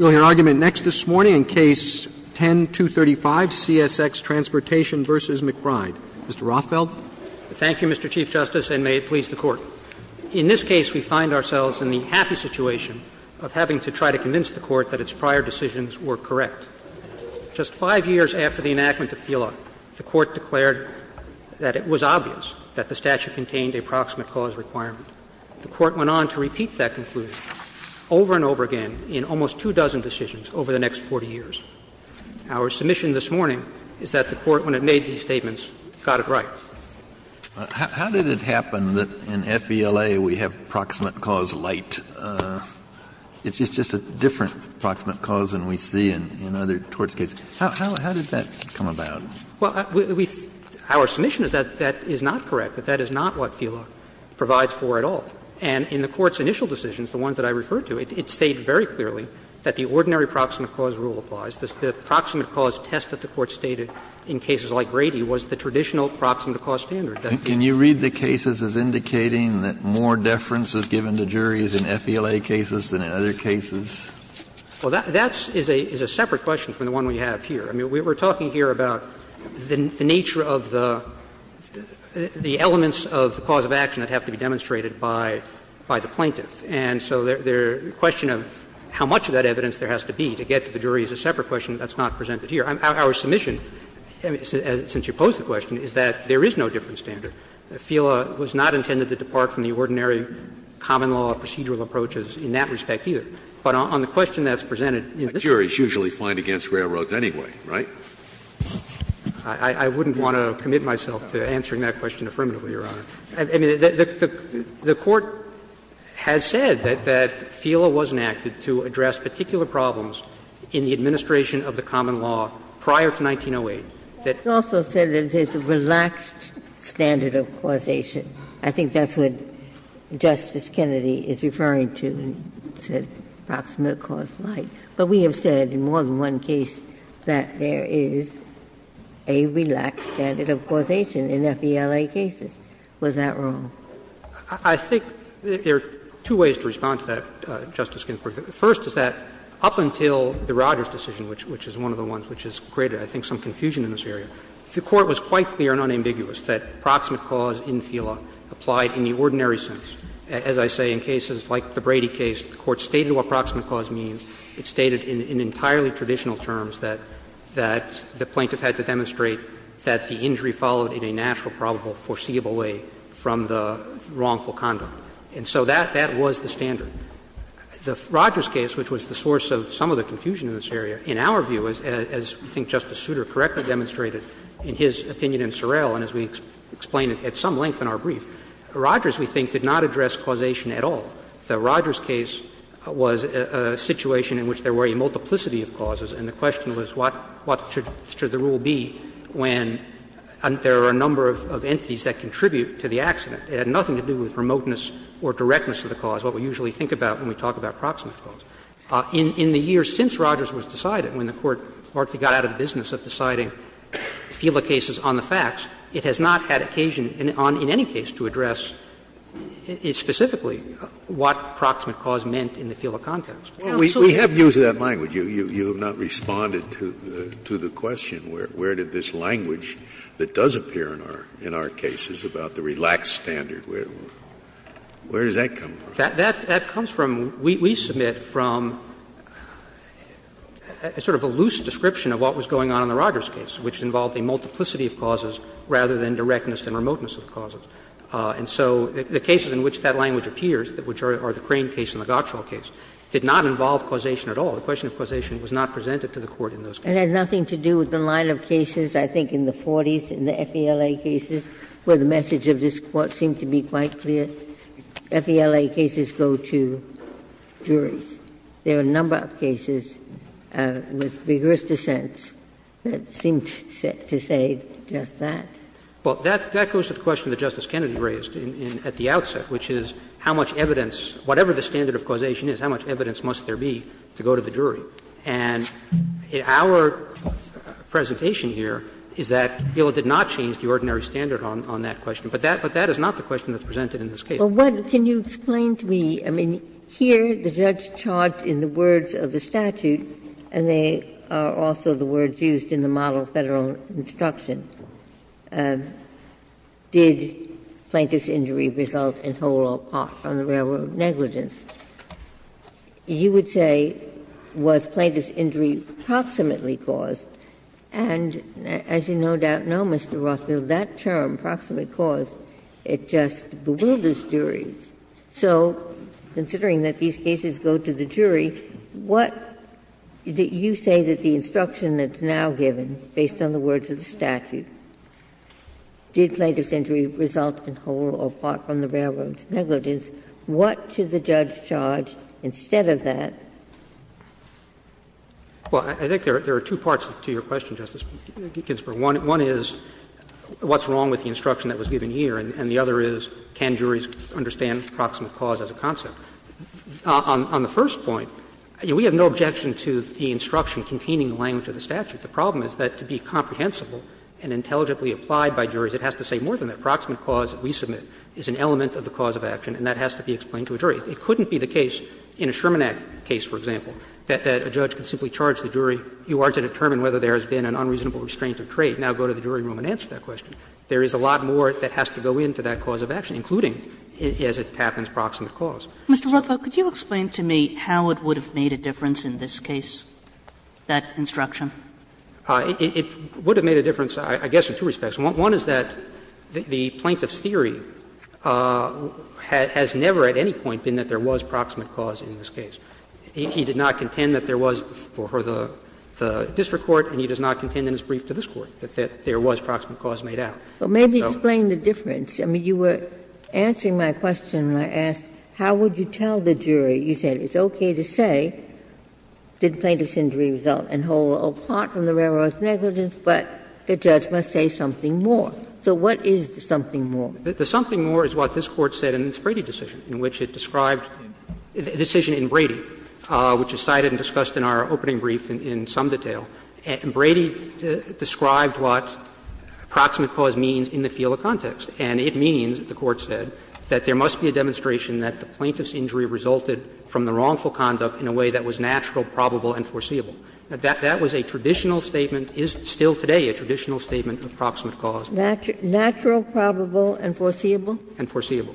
Mr. Rothfeld. Thank you, Mr. Chief Justice, and may it please the Court. In this case, we find ourselves in the happy situation of having to try to convince the Court that its prior decisions were correct. Just five years after the enactment of FELA, the Court declared that it was obvious that the statute contained a proximate cause requirement. The Court went on to repeat that conclusion over and over again. In almost two dozen decisions over the next 40 years. Our submission this morning is that the Court, when it made these statements, got it right. Kennedy. How did it happen that in FELA we have proximate cause light? It's just a different proximate cause than we see in other torts cases. How did that come about? Rothfeld. Well, we — our submission is that that is not correct, that that is not what FELA provides for at all. And in the Court's initial decisions, the ones that I referred to, it stated very clearly that the ordinary proximate cause rule applies. The proximate cause test that the Court stated in cases like Grady was the traditional proximate cause standard. Can you read the cases as indicating that more deference is given to juries in FELA cases than in other cases? Well, that's — is a separate question from the one we have here. I mean, we're talking here about the nature of the elements of the cause of action that have to be demonstrated by the plaintiff. And so the question of how much of that evidence there has to be to get to the jury is a separate question that's not presented here. Our submission, since you posed the question, is that there is no different standard. FELA was not intended to depart from the ordinary common law procedural approaches in that respect either. But on the question that's presented in this case. But juries usually find against railroads anyway, right? I wouldn't want to commit myself to answering that question affirmatively, Your Honor. I mean, the Court has said that FELA wasn't acted to address particular problems in the administration of the common law prior to 1908. It also said that there's a relaxed standard of causation. I think that's what Justice Kennedy is referring to, said proximate cause like. But we have said in more than one case that there is a relaxed standard of causation in FELA cases. Was that wrong? I think there are two ways to respond to that, Justice Ginsburg. First is that up until the Rogers decision, which is one of the ones which has created I think some confusion in this area, the Court was quite clear and unambiguous that proximate cause in FELA applied in the ordinary sense. As I say, in cases like the Brady case, the Court stated what proximate cause means. It was clear that the injury followed in a natural, probable, foreseeable way from the wrongful conduct. And so that was the standard. The Rogers case, which was the source of some of the confusion in this area, in our view, as I think Justice Souter correctly demonstrated in his opinion in Sorrell, and as we explained at some length in our brief, Rogers, we think, did not address causation at all. The Rogers case was a situation in which there were a multiplicity of causes, and the question was what should the rule be when there are a number of entities that contribute to the accident. It had nothing to do with remoteness or directness of the cause, what we usually think about when we talk about proximate cause. In the years since Rogers was decided, when the Court largely got out of the business of deciding FELA cases on the facts, it has not had occasion in any case to address specifically what proximate cause meant in the FELA context. Scalia, we have used that language. You have not responded to the question where did this language that does appear in our cases about the relaxed standard, where does that come from? That comes from, we submit from sort of a loose description of what was going on in the Rogers case, which involved a multiplicity of causes rather than directness and remoteness of causes. And so the cases in which that language appears, which are the Crane case and the Crane case, do not involve causation at all. The question of causation was not presented to the Court in those cases. Ginsburg. It had nothing to do with the line of cases, I think, in the 40s in the FELA cases where the message of this Court seemed to be quite clear. FELA cases go to juries. There are a number of cases with rigorous dissents that seem to say just that. Well, that goes to the question that Justice Kennedy raised at the outset, which is how much evidence, whatever the standard of causation is, how much evidence must there be to go to the jury. And our presentation here is that FELA did not change the ordinary standard on that question. But that is not the question that's presented in this case. Ginsburg. Well, can you explain to me, I mean, here the judge charged in the words of the statute, and they are also the words used in the model Federal instruction, did Plaintiff's injury result in whole or part from the railroad negligence, you would say was Plaintiff's injury proximately caused, and as you no doubt know, Mr. Rothfield, that term, proximately caused, it just bewilders juries. So considering that these cases go to the jury, what do you say that the instruction that's now given, based on the words of the statute, did Plaintiff's injury result in whole or part from the railroad's negligence, what should the judge charge instead of that? Well, I think there are two parts to your question, Justice Ginsburg. One is what's wrong with the instruction that was given here, and the other is can juries understand proximate cause as a concept. On the first point, we have no objection to the instruction containing the language of the statute. The problem is that to be comprehensible and intelligibly applied by juries, it has to say more than that. Proximate cause that we submit is an element of the cause of action, and that has to be explained to a jury. It couldn't be the case in a Sherman Act case, for example, that a judge could simply charge the jury, you are to determine whether there has been an unreasonable restraint of trade. Now go to the jury room and answer that question. There is a lot more that has to go into that cause of action, including, as it happens, proximate cause. Mr. Rothfield, could you explain to me how it would have made a difference in this case, that instruction? It would have made a difference, I guess, in two respects. One is that the plaintiff's theory has never at any point been that there was proximate cause in this case. He did not contend that there was before the district court, and he does not contend in his brief to this Court that there was proximate cause made out. So. Ginsburg. Well, maybe explain the difference. I mean, you were answering my question when I asked how would you tell the jury. You said it's okay to say, did plaintiff's injury result in whole or part from the error of negligence, but the judge must say something more. So what is the something more? The something more is what this Court said in its Brady decision, in which it described the decision in Brady, which is cited and discussed in our opening brief in some detail. And Brady described what proximate cause means in the field of context. And it means, the Court said, that there must be a demonstration that the plaintiff's injury resulted from the wrongful conduct in a way that was natural, probable, and foreseeable. That was a traditional statement, is still today a traditional statement of proximate cause. Natural, probable, and foreseeable? And foreseeable.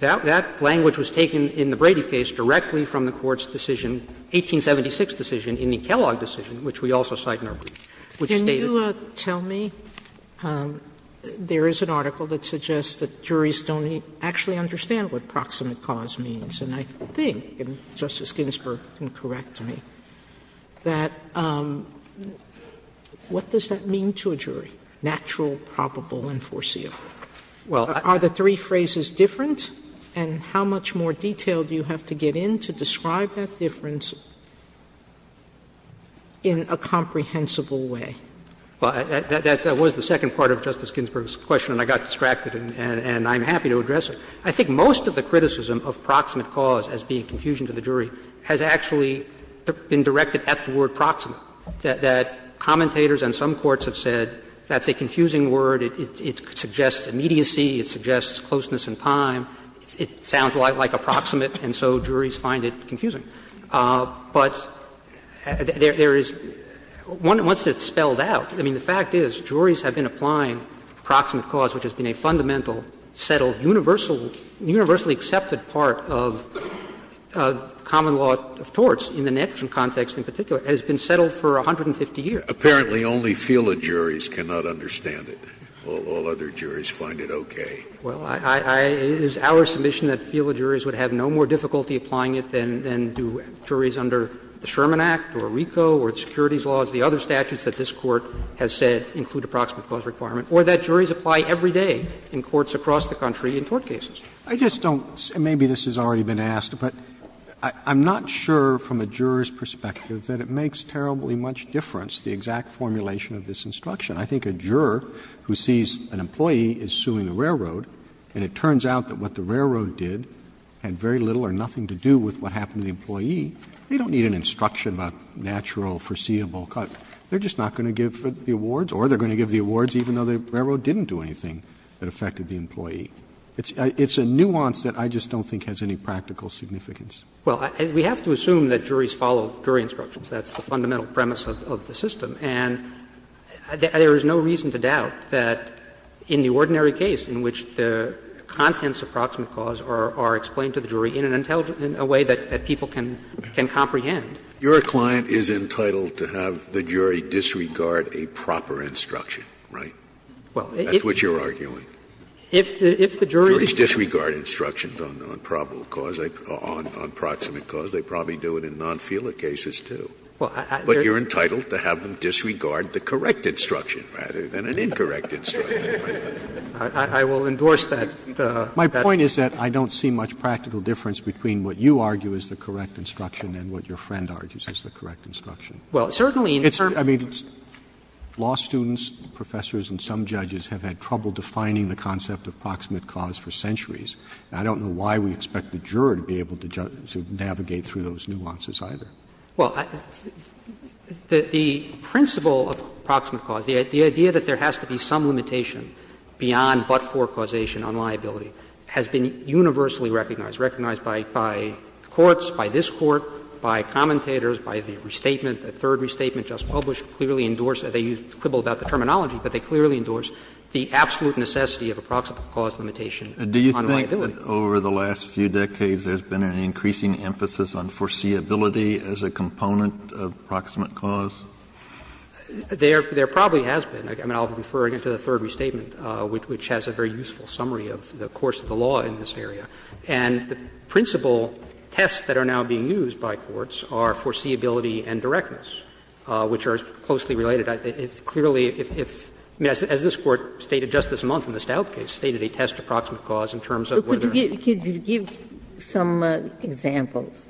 That language was taken in the Brady case directly from the Court's decision, 1876 decision, in the Kellogg decision, which we also cite in our brief, which stated Can you tell me, there is an article that suggests that juries don't actually understand what proximate cause means, and I think Justice Ginsburg can correct me. That what does that mean to a jury, natural, probable, and foreseeable? Are the three phrases different, and how much more detail do you have to get in to describe that difference in a comprehensible way? Well, that was the second part of Justice Ginsburg's question, and I got distracted and I'm happy to address it. I think most of the criticism of proximate cause as being confusion to the jury has actually been directed at the word proximate, that commentators and some courts have said that's a confusing word, it suggests immediacy, it suggests closeness in time, it sounds a lot like approximate, and so juries find it confusing. But there is one that, once it's spelled out, I mean, the fact is, juries have been applying proximate cause, which has been a fundamental, settled, universal, universally accepted part of common law of torts in the Netgen context in particular, has been settled for 150 years. Apparently, only FILA juries cannot understand it. All other juries find it okay. Well, I — it is our submission that FILA juries would have no more difficulty applying it than do juries under the Sherman Act or RICO or the securities laws, the other statutes that this Court has said include approximate cause requirement, or that juries apply every day in courts across the country in tort cases. Roberts I just don't — maybe this has already been asked, but I'm not sure from a juror's perspective that it makes terribly much difference, the exact formulation of this instruction. I think a juror who sees an employee is suing the railroad, and it turns out that what the railroad did had very little or nothing to do with what happened to the employee. They don't need an instruction about natural, foreseeable cause. They're just not going to give the awards, or they're going to give the awards even though the railroad didn't do anything that affected the employee. It's a nuance that I just don't think has any practical significance. Well, we have to assume that juries follow jury instructions. That's the fundamental premise of the system. And there is no reason to doubt that in the ordinary case in which the contents of approximate cause are explained to the jury in an intelligent — in a way that people can comprehend. Scalia client is entitled to have the jury disregard a proper instruction, right? That's what you're arguing. If the jury's disregard instructions on probable cause, on proximate cause, they probably do it in non-FELA cases, too. But you're entitled to have them disregard the correct instruction rather than an incorrect instruction, right? I will endorse that. My point is that I don't see much practical difference between what you argue is the correct instruction. Well, certainly in the term of the jury's discretion, I mean, law students, professors, and some judges have had trouble defining the concept of proximate cause for centuries. And I don't know why we expect the juror to be able to navigate through those nuances either. Well, the principle of proximate cause, the idea that there has to be some limitation by the courts, by this Court, by commentators, by the restatement, the third restatement just published, clearly endorse — they quibble about the terminology, but they clearly endorse the absolute necessity of a proximate cause limitation on liability. Kennedy, over the last few decades, there's been an increasing emphasis on foreseeability as a component of proximate cause? There probably has been. I mean, I'll refer again to the third restatement, which has a very useful summary of the course of the law in this area. And the principle tests that are now being used by courts are foreseeability and directness, which are closely related. It's clearly if — as this Court stated just this month in the Stout case, stated a test of proximate cause in terms of whether they're— Ginsburg, could you give some examples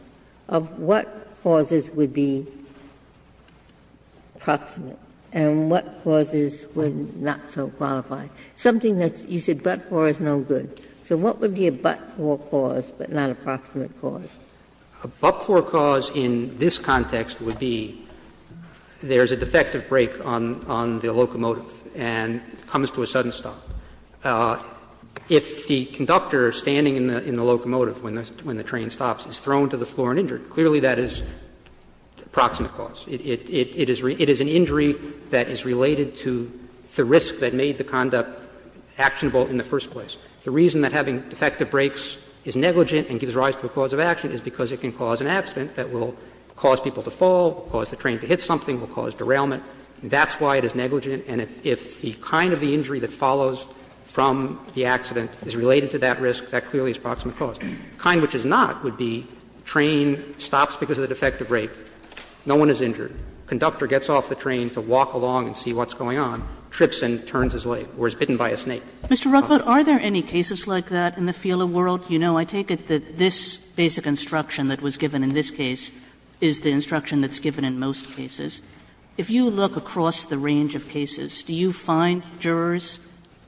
of what causes would be proximate and what causes would not so qualify? Something that you said but-for is no good. So what would be a but-for cause, but not a proximate cause? A but-for cause in this context would be there's a defective brake on the locomotive and it comes to a sudden stop. If the conductor standing in the locomotive when the train stops is thrown to the floor and injured, clearly that is proximate cause. It is an injury that is related to the risk that made the conduct actionable in the first place. The reason that having defective brakes is negligent and gives rise to a cause of action is because it can cause an accident that will cause people to fall, cause the train to hit something, will cause derailment. That's why it is negligent. And if the kind of the injury that follows from the accident is related to that risk, that clearly is proximate cause. The kind which is not would be train stops because of the defective brake, no one is injured. Conductor gets off the train to walk along and see what's going on, trips and turns his leg or is bitten by a snake. Kagan. Kagan. Mr. Ruckelshaus. Are there any cases like that in the FILA world? You know, I take it that this basic instruction that was given in this case is the instruction that's given in most cases. If you look across the range of cases, do you find jurors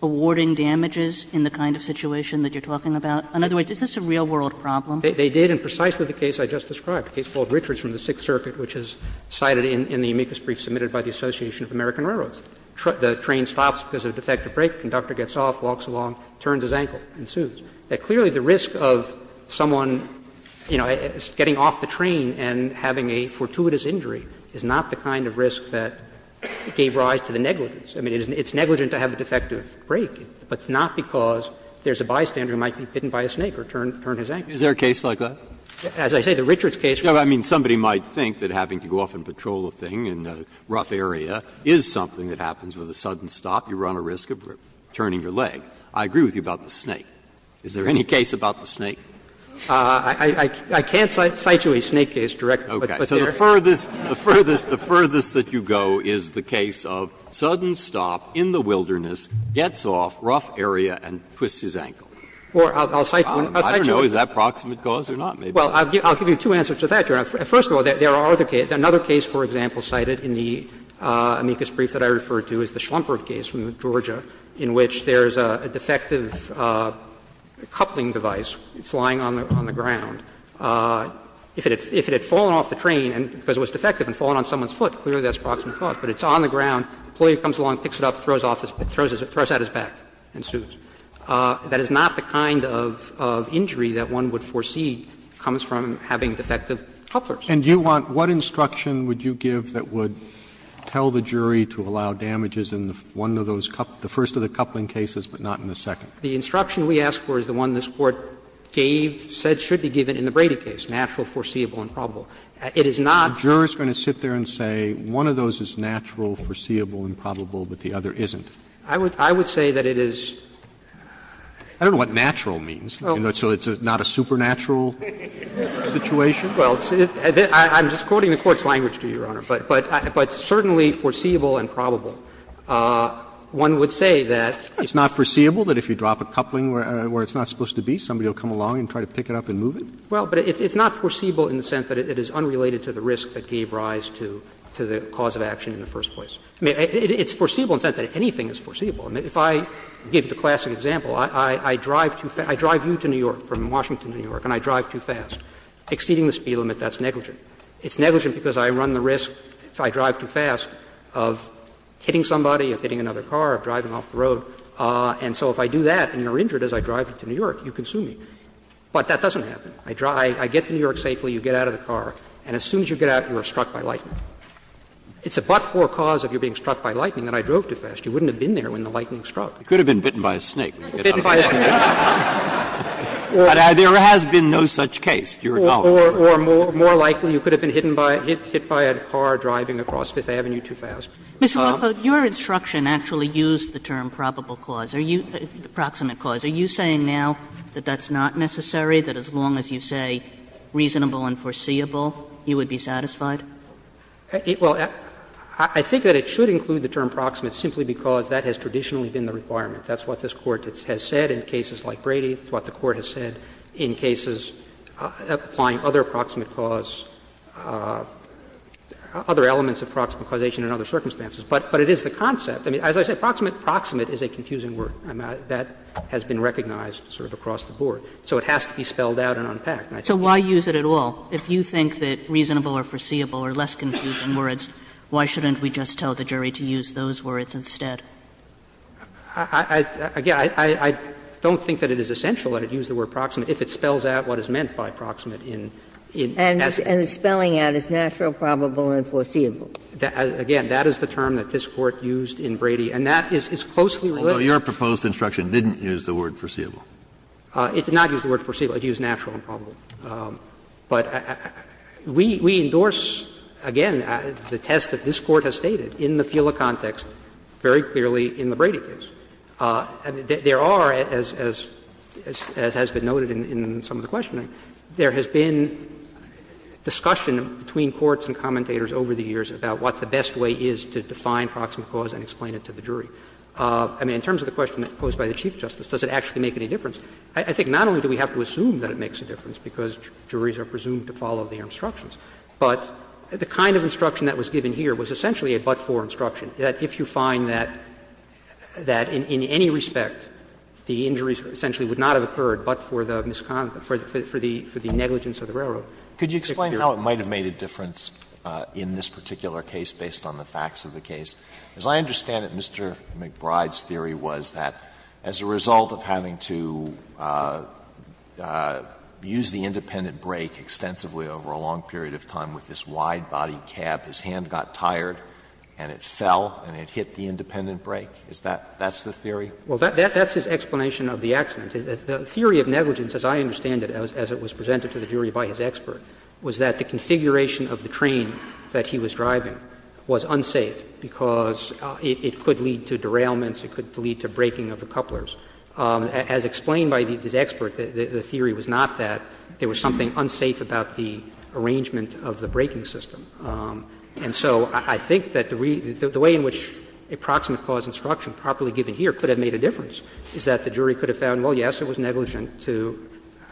awarding damages in the kind of situation that you're talking about? In other words, is this a real world problem? They did in precisely the case I just described, the case called Richards from the Sixth Circuit which is cited in the amicus brief submitted by the Association of American Railroads. The train stops because of a defective brake, conductor gets off, walks along, turns his ankle, ensues. Clearly, the risk of someone, you know, getting off the train and having a fortuitous injury is not the kind of risk that gave rise to the negligence. I mean, it's negligent to have a defective brake, but not because there's a bystander who might be bitten by a snake or turn his ankle. Breyer. Is there a case like that? As I say, the Richards case. I mean, somebody might think that having to go off and patrol a thing in a rough area is something that happens with a sudden stop. You run a risk of turning your leg. I agree with you about the snake. Is there any case about the snake? I can't cite you a snake case directly, but there is. Okay. So the furthest, the furthest, the furthest that you go is the case of sudden stop in the wilderness, gets off, rough area, and twists his ankle. Or I'll cite you one. I don't know. Is that proximate cause or not? Well, I'll give you two answers to that, Your Honor. First of all, there are other cases. Another case, for example, cited in the amicus brief that I referred to is the Schlumberg case from Georgia in which there is a defective coupling device. It's lying on the ground. If it had fallen off the train because it was defective and fallen on someone's foot, clearly that's proximate cause. But it's on the ground. The employee comes along, picks it up, throws off his back, throws out his back and suits. That is not the kind of injury that one would foresee comes from having defective couplers. And you want, what instruction would you give that would tell the jury to allow damages in one of those, the first of the coupling cases, but not in the second? The instruction we ask for is the one this Court gave, said should be given in the Brady case, natural, foreseeable, and probable. It is not. The juror is going to sit there and say one of those is natural, foreseeable, and probable, but the other isn't. I would say that it is. I don't know what natural means. So it's not a supernatural situation? Well, I'm just quoting the Court's language to you, Your Honor. But certainly foreseeable and probable. One would say that it's not foreseeable that if you drop a coupling where it's not supposed to be, somebody will come along and try to pick it up and move it? Well, but it's not foreseeable in the sense that it is unrelated to the risk that gave rise to the cause of action in the first place. I mean, it's foreseeable in the sense that anything is foreseeable. If I give the classic example, I drive you to New York, from Washington to New York, and I drive too fast, exceeding the speed limit, that's negligent. It's negligent because I run the risk, if I drive too fast, of hitting somebody, of hitting another car, of driving off the road. And so if I do that and you're injured as I drive you to New York, you can sue me. But that doesn't happen. I get to New York safely, you get out of the car, and as soon as you get out, you are struck by lightning. It's a but-for cause of your being struck by lightning that I drove too fast. You wouldn't have been there when the lightning struck. It could have been bitten by a snake. But there has been no such case, Your Honor. Or more likely, you could have been hit by a car driving across Fifth Avenue too fast. Ms. Rotherford, your instruction actually used the term probable cause, approximate cause. Are you saying now that that's not necessary, that as long as you say reasonable and foreseeable, you would be satisfied? Well, I think that it should include the term proximate simply because that has traditionally been the requirement. That's what this Court has said in cases like Brady. That's what the Court has said in cases applying other approximate cause, other elements of proximate causation in other circumstances. But it is the concept. I mean, as I said, proximate, proximate is a confusing word. That has been recognized sort of across the board. So it has to be spelled out and unpacked. And I think that's the point. So why use it at all? If you think that reasonable or foreseeable are less confusing words, why shouldn't we just tell the jury to use those words instead? I don't think that it is essential that it use the word proximate if it spells out what is meant by proximate in essence. And spelling out is natural, probable, and foreseeable. Again, that is the term that this Court used in Brady. And that is closely related. Although, your proposed instruction didn't use the word foreseeable. It did not use the word foreseeable. It used natural and probable. But we endorse, again, the test that this Court has stated in the FILA context very clearly in the Brady case. There are, as has been noted in some of the questioning, there has been discussion between courts and commentators over the years about what the best way is to define proximate cause and explain it to the jury. I mean, in terms of the question posed by the Chief Justice, does it actually make any difference? I think not only do we have to assume that it makes a difference because juries are presumed to follow their instructions, but the kind of instruction that was given here was essentially a but-for instruction, that if you find that in any respect the injuries essentially would not have occurred but for the negligence of the railroad. Alito, could you explain how it might have made a difference in this particular case based on the facts of the case? As I understand it, Mr. McBride's theory was that as a result of having to use the independent brake extensively over a long period of time with this wide body cab, his hand got tired and it fell and it hit the independent brake. Is that the theory? Well, that's his explanation of the accident. The theory of negligence, as I understand it, as it was presented to the jury by his expert, was that the configuration of the train that he was driving was unsafe because it could lead to derailments, it could lead to braking of the couplers. As explained by his expert, the theory was not that there was something unsafe about the arrangement of the braking system. And so I think that the way in which a proximate cause instruction properly given here could have made a difference is that the jury could have found, well, yes, it was negligent to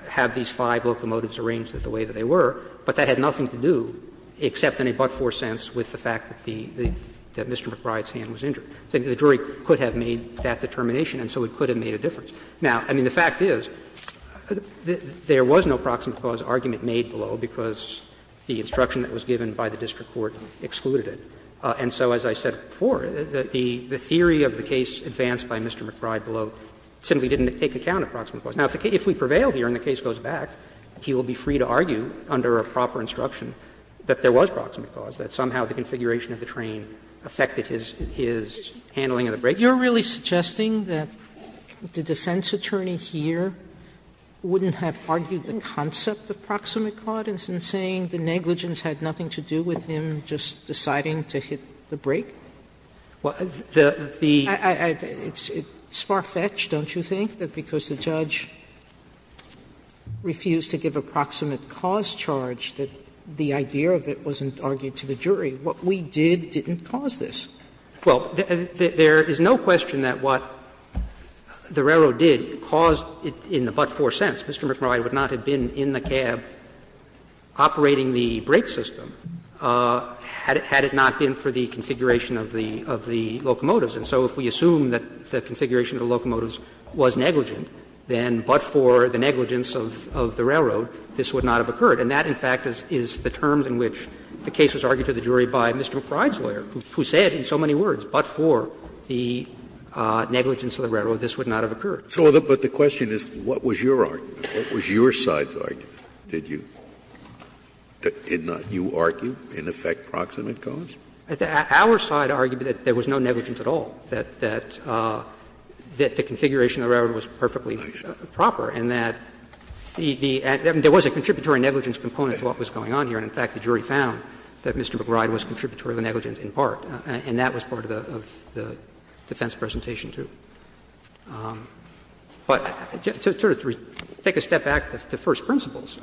have these five locomotives arranged the way that they were, but that had nothing to do except in a but-for sense with the fact that Mr. McBride's hand was injured. So the jury could have made that determination and so it could have made a difference. Now, I mean, the fact is there was no proximate cause argument made below because the instruction that was given by the district court excluded it. And so, as I said before, the theory of the case advanced by Mr. McBride below simply didn't take account of proximate cause. Now, if we prevail here and the case goes back, he will be free to argue under a proper instruction that there was proximate cause, that somehow the configuration of the train affected his handling of the braking. Sotomayore, you're really suggesting that the defense attorney here wouldn't have argued the concept of proximate cause in saying the negligence had nothing to do with him just deciding to hit the brake? It's far-fetched, don't you think, that because the judge refused to give a proximate cause charge that the idea of it wasn't argued to the jury? What we did didn't cause this. Well, there is no question that what the railroad did caused it in the but-for sense. Mr. McBride would not have been in the cab operating the brake system had it not been for the configuration of the locomotives. And so if we assume that the configuration of the locomotives was negligent, then but-for the negligence of the railroad, this would not have occurred. And that, in fact, is the term in which the case was argued to the jury by Mr. McBride's lawyer, who said in so many words, but-for the negligence of the railroad, this would not have occurred. Scalia So the question is, what was your argument? What was your side's argument? Did you argue in effect proximate cause? Our side argued that there was no negligence at all, that the configuration of the railroad was perfectly proper, and that there was a contributory negligence component to what was going on here, and in fact the jury found that Mr. McBride was contributory to the negligence in part, and that was part of the defense presentation, too. But to take a step back to first principles,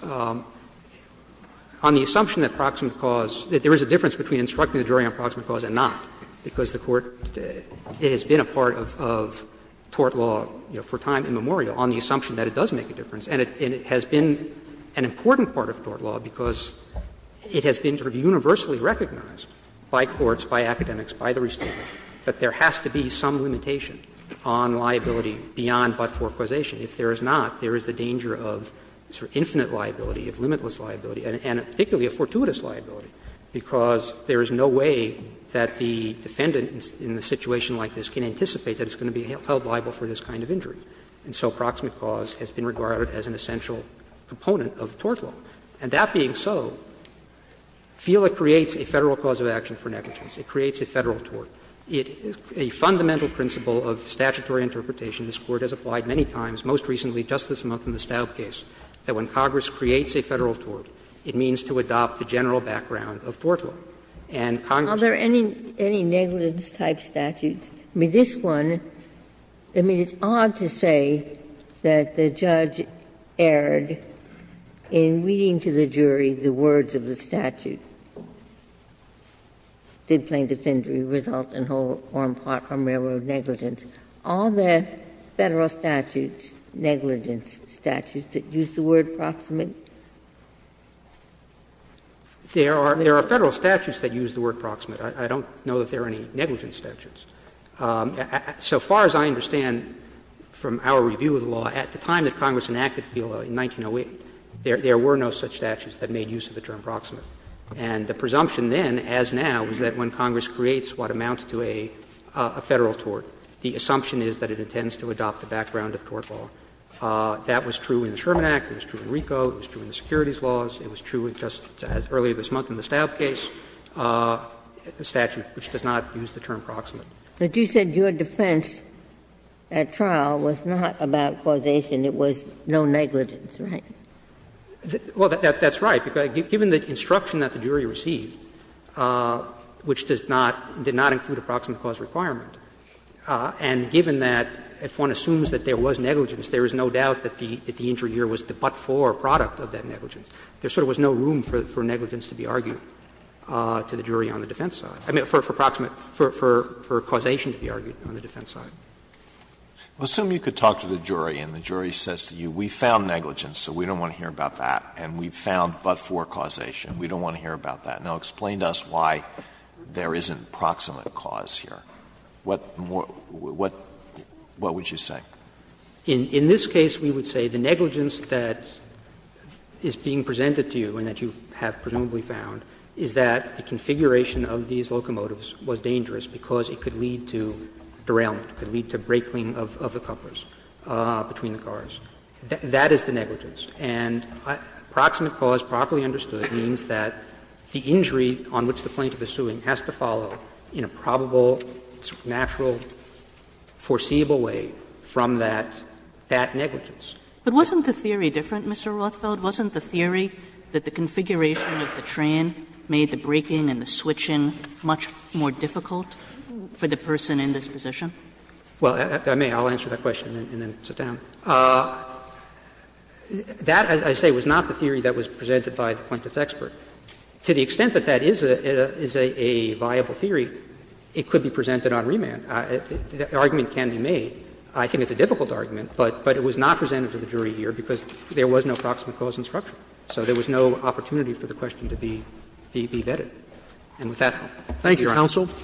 on the assumption that proximate cause, that there is a difference between instructing the jury on proximate cause and not, because the Court, it has been a part of tort law, you know, for time immemorial, on the assumption that it does make a difference. And it has been an important part of tort law, because it has been sort of universally recognized by courts, by academics, by the restatement, that there has to be some limitation on liability beyond but-for causation. If there is not, there is the danger of sort of infinite liability, of limitless liability, and particularly a fortuitous liability, because there is no way that the defendant in a situation like this can anticipate that it's going to be held liable for this kind of injury. And so proximate cause has been regarded as an essential component of tort law. And that being so, FILA creates a Federal cause of action for negligence. It creates a Federal tort. It is a fundamental principle of statutory interpretation. This Court has applied many times, most recently just this month in the Stout case, that when Congress creates a Federal tort, it means to adopt the general background of tort law. And Congress doesn't. Ginsburg. Are there any negligence-type statutes? I mean, this one, I mean, it's odd to say that the judge erred in reading to the jury the words of the statute, did plaintiff's injury result in whole or in part from railroad negligence. Are there Federal statutes, negligence statutes, that use the word proximate? There are Federal statutes that use the word proximate. I don't know that there are any negligence statutes. So far as I understand from our review of the law, at the time that Congress enacted FILA in 1908, there were no such statutes that made use of the term proximate. And the presumption then, as now, is that when Congress creates what amounts to a Federal tort, the assumption is that it intends to adopt the background of tort law. That was true in the Sherman Act, it was true in RICO, it was true in the securities laws, it was true just earlier this month in the Stout case, a statute which does not use the term proximate. But you said your defense at trial was not about causation, it was no negligence, right? Well, that's right, because given the instruction that the jury received, which does not, did not include a proximate cause requirement, and given that if one assumes that there was negligence, there is no doubt that the injury here was the but-for product of that negligence, there sort of was no room for negligence to be argued to the jury on the defense side, I mean, for proximate, for causation to be argued on the defense side. Well, assume you could talk to the jury and the jury says to you, we found negligence, so we don't want to hear about that, and we found but-for causation, we don't want to hear about that. Now, explain to us why there isn't proximate cause here. What more, what, what would you say? In this case, we would say the negligence that is being presented to you and that you have presumably found is that the configuration of these locomotives was dangerous because it could lead to derailment, it could lead to break-lean of the couplers between the cars. That is the negligence. And proximate cause, properly understood, means that the injury on which the plaintiff is suing has to follow in a probable, natural, foreseeable way from that, that negligence. But wasn't the theory different, Mr. Rothfeld? Wasn't the theory that the configuration of the train made the breaking and the switching much more difficult for the person in this position? Well, if I may, I'll answer that question and then sit down. That, as I say, was not the theory that was presented by the plaintiff's expert. To the extent that that is a viable theory, it could be presented on remand. The argument can be made. I think it's a difficult argument, but it was not presented to the jury here because there was no proximate cause in structure. So there was no opportunity for the question to be vetted. And with that, I'll be at your end. Roberts.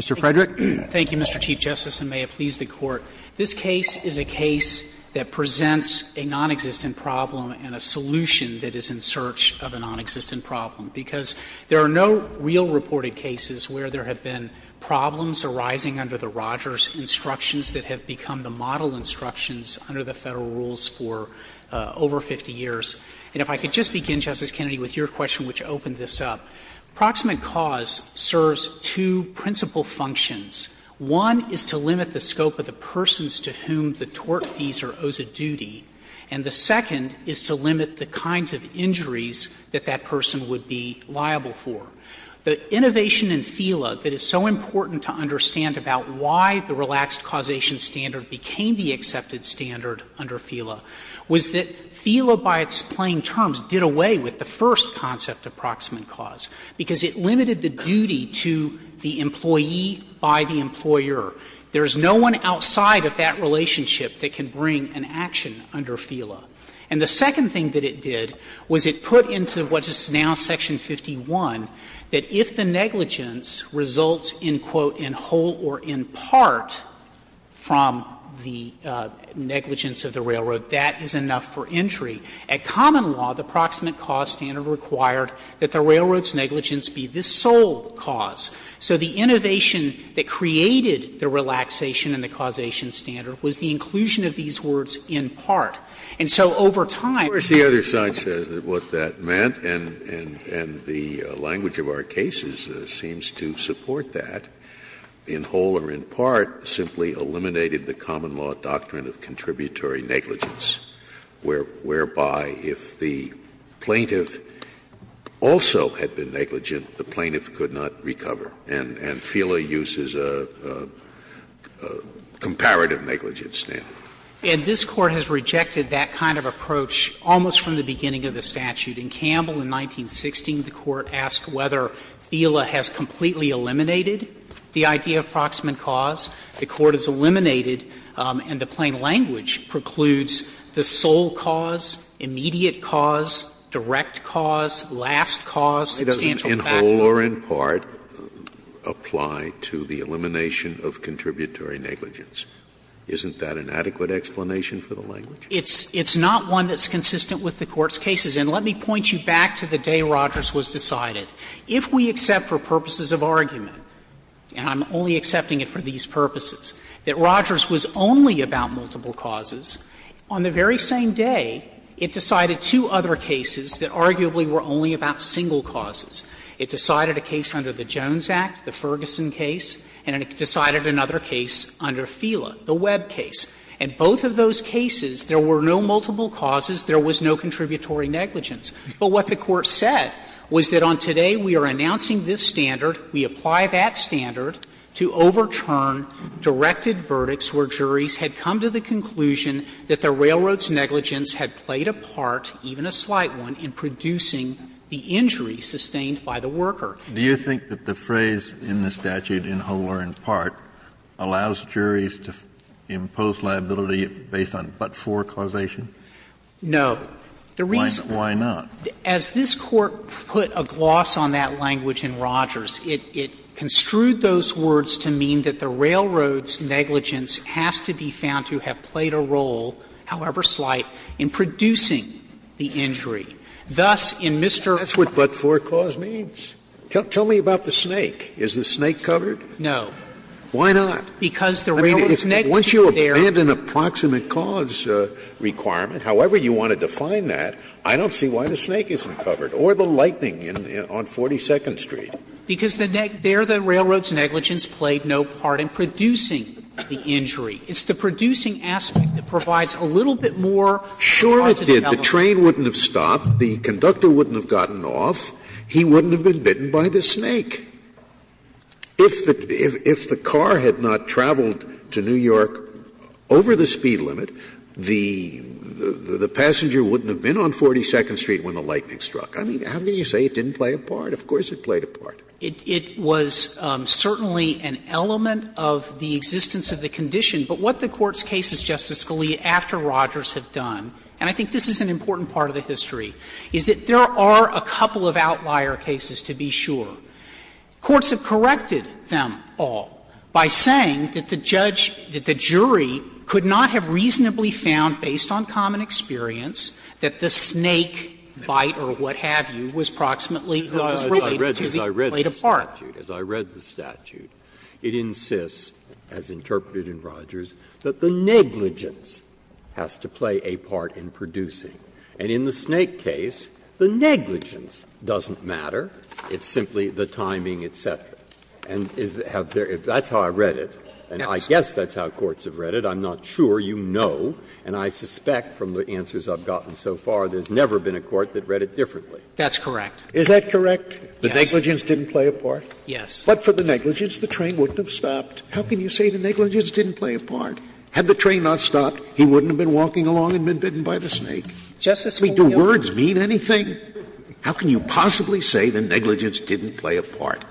Mr. Frederick. Thank you, Mr. Chief Justice, and may it please the Court. This case is a case that presents a nonexistent problem and a solution that is in search of a nonexistent problem, because there are no real reported cases where there have been problems arising under the Rogers instructions that have become the model instructions under the Federal rules for over 50 years. And if I could just begin, Justice Kennedy, with your question, which opened this up. Proximate cause serves two principal functions. One is to limit the scope of the persons to whom the tortfeasor owes a duty, and the second is to limit the kinds of injuries that that person would be liable for. The innovation in FELA that is so important to understand about why the relaxed causation standard became the accepted standard under FELA was that FELA by its plain terms did away with the first concept of proximate cause, because it limited the duty to the employee by the employer. There is no one outside of that relationship that can bring an action under FELA. And the second thing that it did was it put into what is now section 51 that if the negligence results in, quote, in whole or in part from the negligence of the railroad, that is enough for injury. At common law, the proximate cause standard required that the railroad's negligence be the sole cause. So the innovation that created the relaxation and the causation standard was the inclusion of these words in part. And so over time, the other side says what that meant, and the language of our cases seems to support that. In whole or in part simply eliminated the common law doctrine of contributory negligence, whereby if the plaintiff also had been negligent, the plaintiff could not recover. And FELA uses a comparative negligence standard. And this Court has rejected that kind of approach almost from the beginning of the statute. In Campbell in 1916, the Court asked whether FELA has completely eliminated the idea of proximate cause. The Court has eliminated and the plain language precludes the sole cause, immediate cause, direct cause, last cause, substantial fact. Scalia, in whole or in part, apply to the elimination of contributory negligence. Isn't that an adequate explanation for the language? It's not one that's consistent with the Court's cases. And let me point you back to the day Rogers was decided. If we accept for purposes of argument, and I'm only accepting it for these purposes, that Rogers was only about multiple causes, on the very same day it decided two other cases that arguably were only about single causes. It decided a case under the Jones Act, the Ferguson case, and it decided another case under FELA, the Webb case. In both of those cases, there were no multiple causes, there was no contributory negligence. But what the Court said was that on today we are announcing this standard, we apply that standard to overturn directed verdicts where juries had come to the conclusion that the railroad's negligence had played a part, even a slight one, in producing the injury sustained by the worker. Kennedy, do you think that the phrase in the statute, in whole or in part, allows juries to impose liability based on but-for causation? No. The reason why not? As this Court put a gloss on that language in Rogers, it construed those words to mean that the railroad's negligence has to be found to have played a role, however slight, in producing the injury. Thus, in Mr. Roberts' case, there was no negligence in but-for causation. Scalia, that's what but-for cause means. Tell me about the snake. Is the snake covered? No. Why not? Because the railroad's negligence there. I mean, once you abandon a proximate cause requirement, however you want to define that, I don't see why the snake isn't covered, or the lightning on 42nd Street. Because there the railroad's negligence played no part in producing the injury. It's the producing aspect that provides a little bit more of a positive element. Sure, it did. The train wouldn't have stopped, the conductor wouldn't have gotten off, he wouldn't have been bitten by the snake. If the car had not traveled to New York over the speed limit, the passenger wouldn't have been on 42nd Street when the lightning struck. I mean, how can you say it didn't play a part? Of course it played a part. It was certainly an element of the existence of the condition. But what the Court's case is, Justice Scalia, after Rogers have done, and I think this is an important part of the history, is that there are a couple of outlier cases, to be sure. Courts have corrected them all by saying that the judge, that the jury could not have reasonably found, based on common experience, that the snake bite or what have you was approximately related to the plate of bark. Breyer, as I read the statute, it insists, as interpreted in Rogers, that the negligence has to play a part in producing. And in the snake case, the negligence doesn't matter. It's simply the timing, et cetera. Now, I don't know, and I suspect from the answers I've gotten so far, there's never been a court that read it differently. That's correct. Is that correct? Yes. The negligence didn't play a part? Yes. But for the negligence, the train wouldn't have stopped. How can you say the negligence didn't play a part? Had the train not stopped, he wouldn't have been walking along and been bitten by the snake. Justice Scalia. I mean, do words mean anything? How can you possibly say the negligence didn't play a part?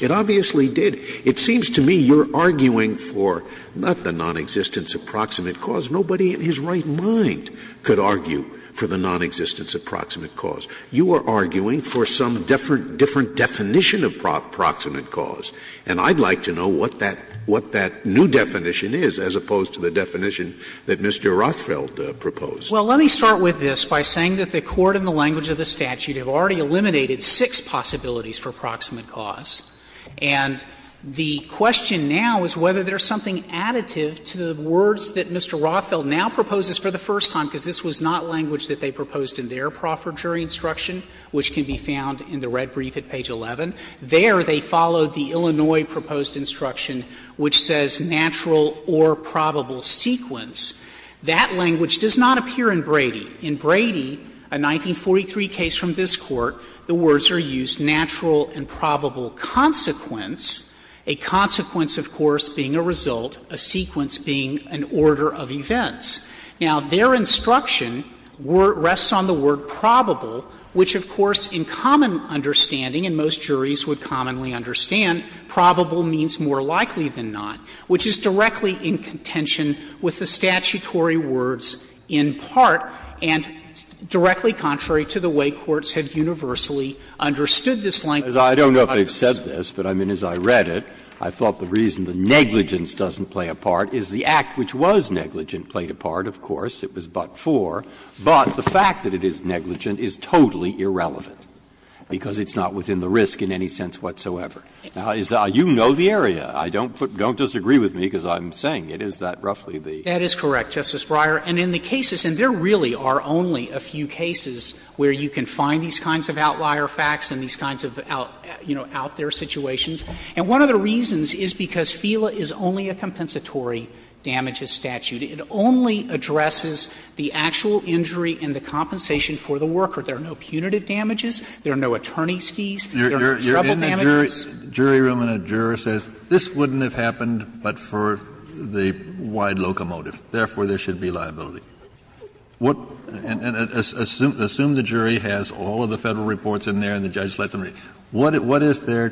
It obviously did. It seems to me you're arguing for not the nonexistence of proximate cause. Nobody in his right mind could argue for the nonexistence of proximate cause. You are arguing for some different definition of proximate cause. And I'd like to know what that new definition is as opposed to the definition that Mr. Rothfeld proposed. Well, let me start with this by saying that the Court in the language of the statute have already eliminated six possibilities for proximate cause. And the question now is whether there's something additive to the words that Mr. Rothfeld now proposes for the first time, because this was not language that they proposed in their profer jury instruction, which can be found in the red brief at page 11. There they followed the Illinois proposed instruction, which says natural or probable sequence. That language does not appear in Brady. In Brady, a 1943 case from this Court, the words are used, natural and probable consequence, a consequence, of course, being a result, a sequence being an order of events. Now, their instruction rests on the word probable, which, of course, in common understanding, and most juries would commonly understand, probable means more likely than not, which is directly in contention with the statutory words, in part, and directly contrary to the way courts have universally understood this language. Breyer, I don't know if they've said this, but, I mean, as I read it, I thought the reason the negligence doesn't play a part is the act which was negligent played a part, of course, it was but for, but the fact that it is negligent is totally irrelevant, because it's not within the risk in any sense whatsoever. Now, you know the area. Don't disagree with me, because I'm saying it is that roughly the. That is correct, Justice Breyer. And in the cases, and there really are only a few cases where you can find these kinds of outlier facts and these kinds of, you know, out-there situations, and one of the reasons is because FELA is only a compensatory damages statute. It only addresses the actual injury and the compensation for the worker. There are no punitive damages. There are no attorney's fees. There are no trouble damages. Kennedy, the jury room and a juror says this wouldn't have happened but for the wide locomotive, therefore, there should be liability. What and assume the jury has all of the Federal reports in there and the judge lets them read. What is there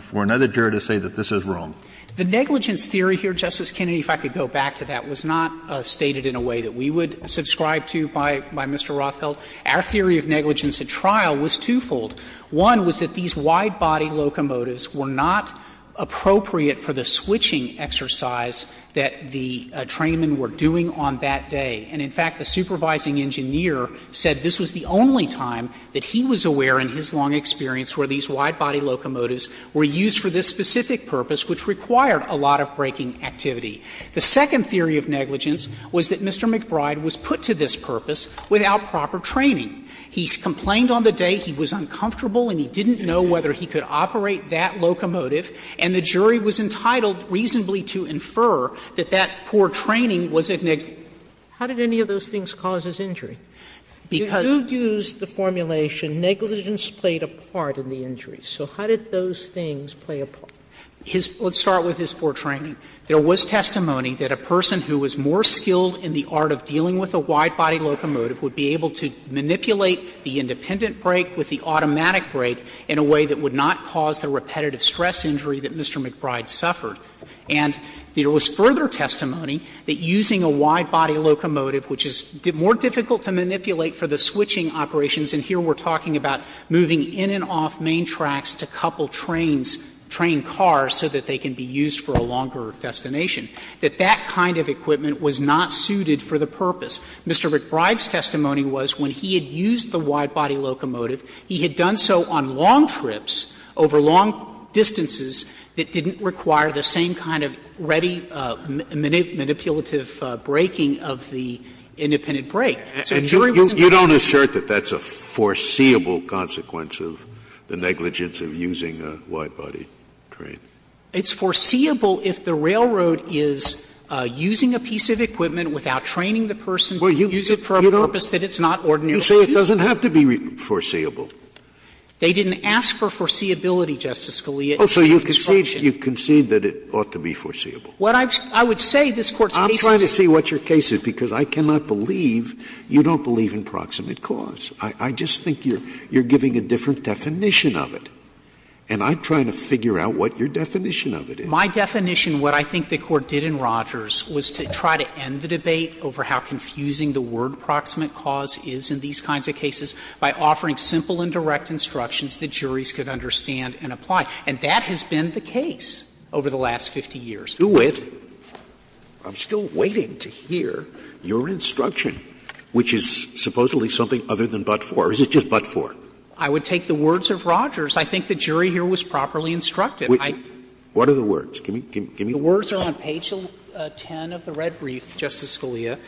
for another juror to say that this is wrong? The negligence theory here, Justice Kennedy, if I could go back to that, was not stated in a way that we would subscribe to by Mr. Rothfeld. Our theory of negligence at trial was twofold. One was that these widebody locomotives were not appropriate for the switching exercise that the trainmen were doing on that day. And in fact, the supervising engineer said this was the only time that he was aware in his long experience where these widebody locomotives were used for this specific purpose, which required a lot of braking activity. The second theory of negligence was that Mr. McBride was put to this purpose without proper training. He complained on the day he was uncomfortable and he didn't know whether he could operate that locomotive, and the jury was entitled reasonably to infer that that poor training was a negligence. Sotomayor How did any of those things cause his injury? Because you used the formulation negligence played a part in the injury. So how did those things play a part? Frederickson Let's start with his poor training. There was testimony that a person who was more skilled in the art of dealing with a widebody locomotive would be able to manipulate the independent brake with the automatic brake in a way that would not cause the repetitive stress injury that Mr. McBride suffered. And there was further testimony that using a widebody locomotive, which is more difficult to manipulate for the switching operations, and here we're talking about moving in and off main tracks to couple trains, train cars, so that they can be used for a longer destination, that that kind of equipment was not suited for the purpose. Mr. McBride's testimony was when he had used the widebody locomotive, he had done so on long trips over long distances that didn't require the same kind of ready manipulative braking of the independent brake. So the jury was entitled to that. Scalia You don't assert that that's a foreseeable consequence of the negligence of using a widebody train? Frederickson It's foreseeable if the railroad is using a piece of equipment without training the person to use it for a purpose that it's not ordinary. Scalia You say it doesn't have to be foreseeable? Frederickson They didn't ask for foreseeability, Justice Scalia. Scalia Oh, so you concede that it ought to be foreseeable? Frederickson What I would say, this Court's case is not foreseeable. Scalia I'm trying to see what your case is, because I cannot believe you don't believe in proximate cause. I just think you're giving a different definition of it. And I'm trying to figure out what your definition of it is. Frederickson My definition, what I think the Court did in Rogers, was to try to end the debate over how confusing the word proximate cause is in these kinds of cases by offering simple and direct instructions that juries could understand and apply. And that has been the case over the last 50 years. Scalia Do it. I'm still waiting to hear your instruction, which is supposedly something other than but-for, or is it just but-for? Frederickson I would take the words of Rogers. I think the jury here was properly instructed. Scalia What are the words? Give me the words. Frederickson The words are on page 10 of the red brief, Justice Scalia,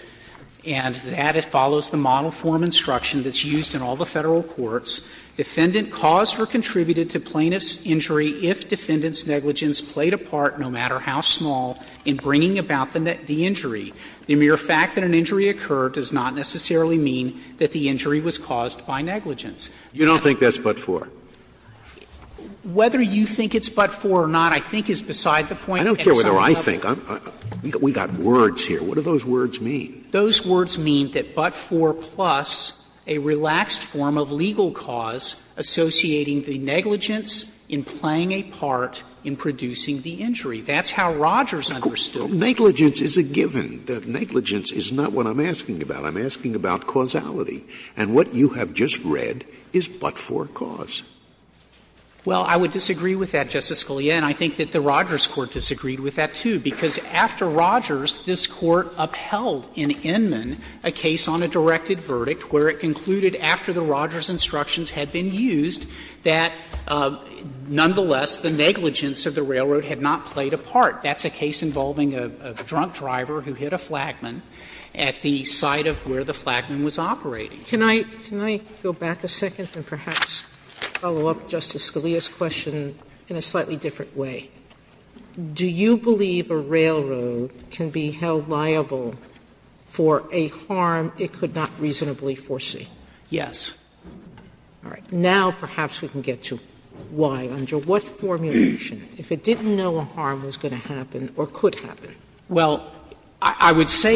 and that it follows the model form instruction that's used in all the Federal courts. Defendant caused or contributed to plaintiff's injury if defendant's negligence played a part, no matter how small, in bringing about the injury. The mere fact that an injury occurred does not necessarily mean that the injury was caused by negligence. Scalia You don't think that's but-for? Frederickson Whether you think it's but-for or not, I think, is beside the point. Scalia I don't care whether I think. We've got words here. What do those words mean? Frederickson Those words mean that but-for plus a relaxed form of legal cause associating the negligence in playing a part in producing the injury. That's how Rogers understood it. Scalia Negligence is a given. Negligence is not what I'm asking about. I'm asking about causality. And what you have just read is but-for cause. Frederickson Well, I would disagree with that, Justice Scalia, and I think that the Rogers Court disagreed with that, too, because after Rogers, this Court upheld in Inman a case on a directed verdict where it concluded after the Rogers instructions had been used that, nonetheless, the negligence of the railroad had not played a part. That's a case involving a drunk driver who hit a flagman at the site of where the flagman was operating. Sotomayor Can I go back a second and perhaps follow up Justice Scalia's question in a slightly different way? Do you believe a railroad can be held liable for a harm it could not reasonably foresee? Frederickson Yes. Sotomayor All right. Now perhaps we can get to why. Under what formulation, if it didn't know a harm was going to happen or could happen, it could not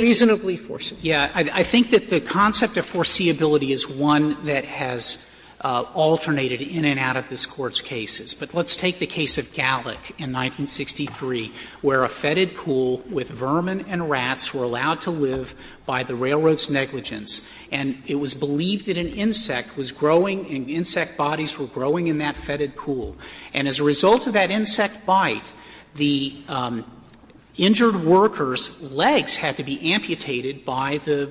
reasonably foresee it? Frederickson Yes. I think that the concept of foreseeability is one that has alternated in and out of this Court's cases. But let's take the case of Gallick in 1963, where a fetid pool with vermin and rats were allowed to live by the railroad's negligence, and it was believed that an insect was growing and insect bodies were growing in that fetid pool. And as a result of that insect bite, the injured worker's legs had to be amputated by the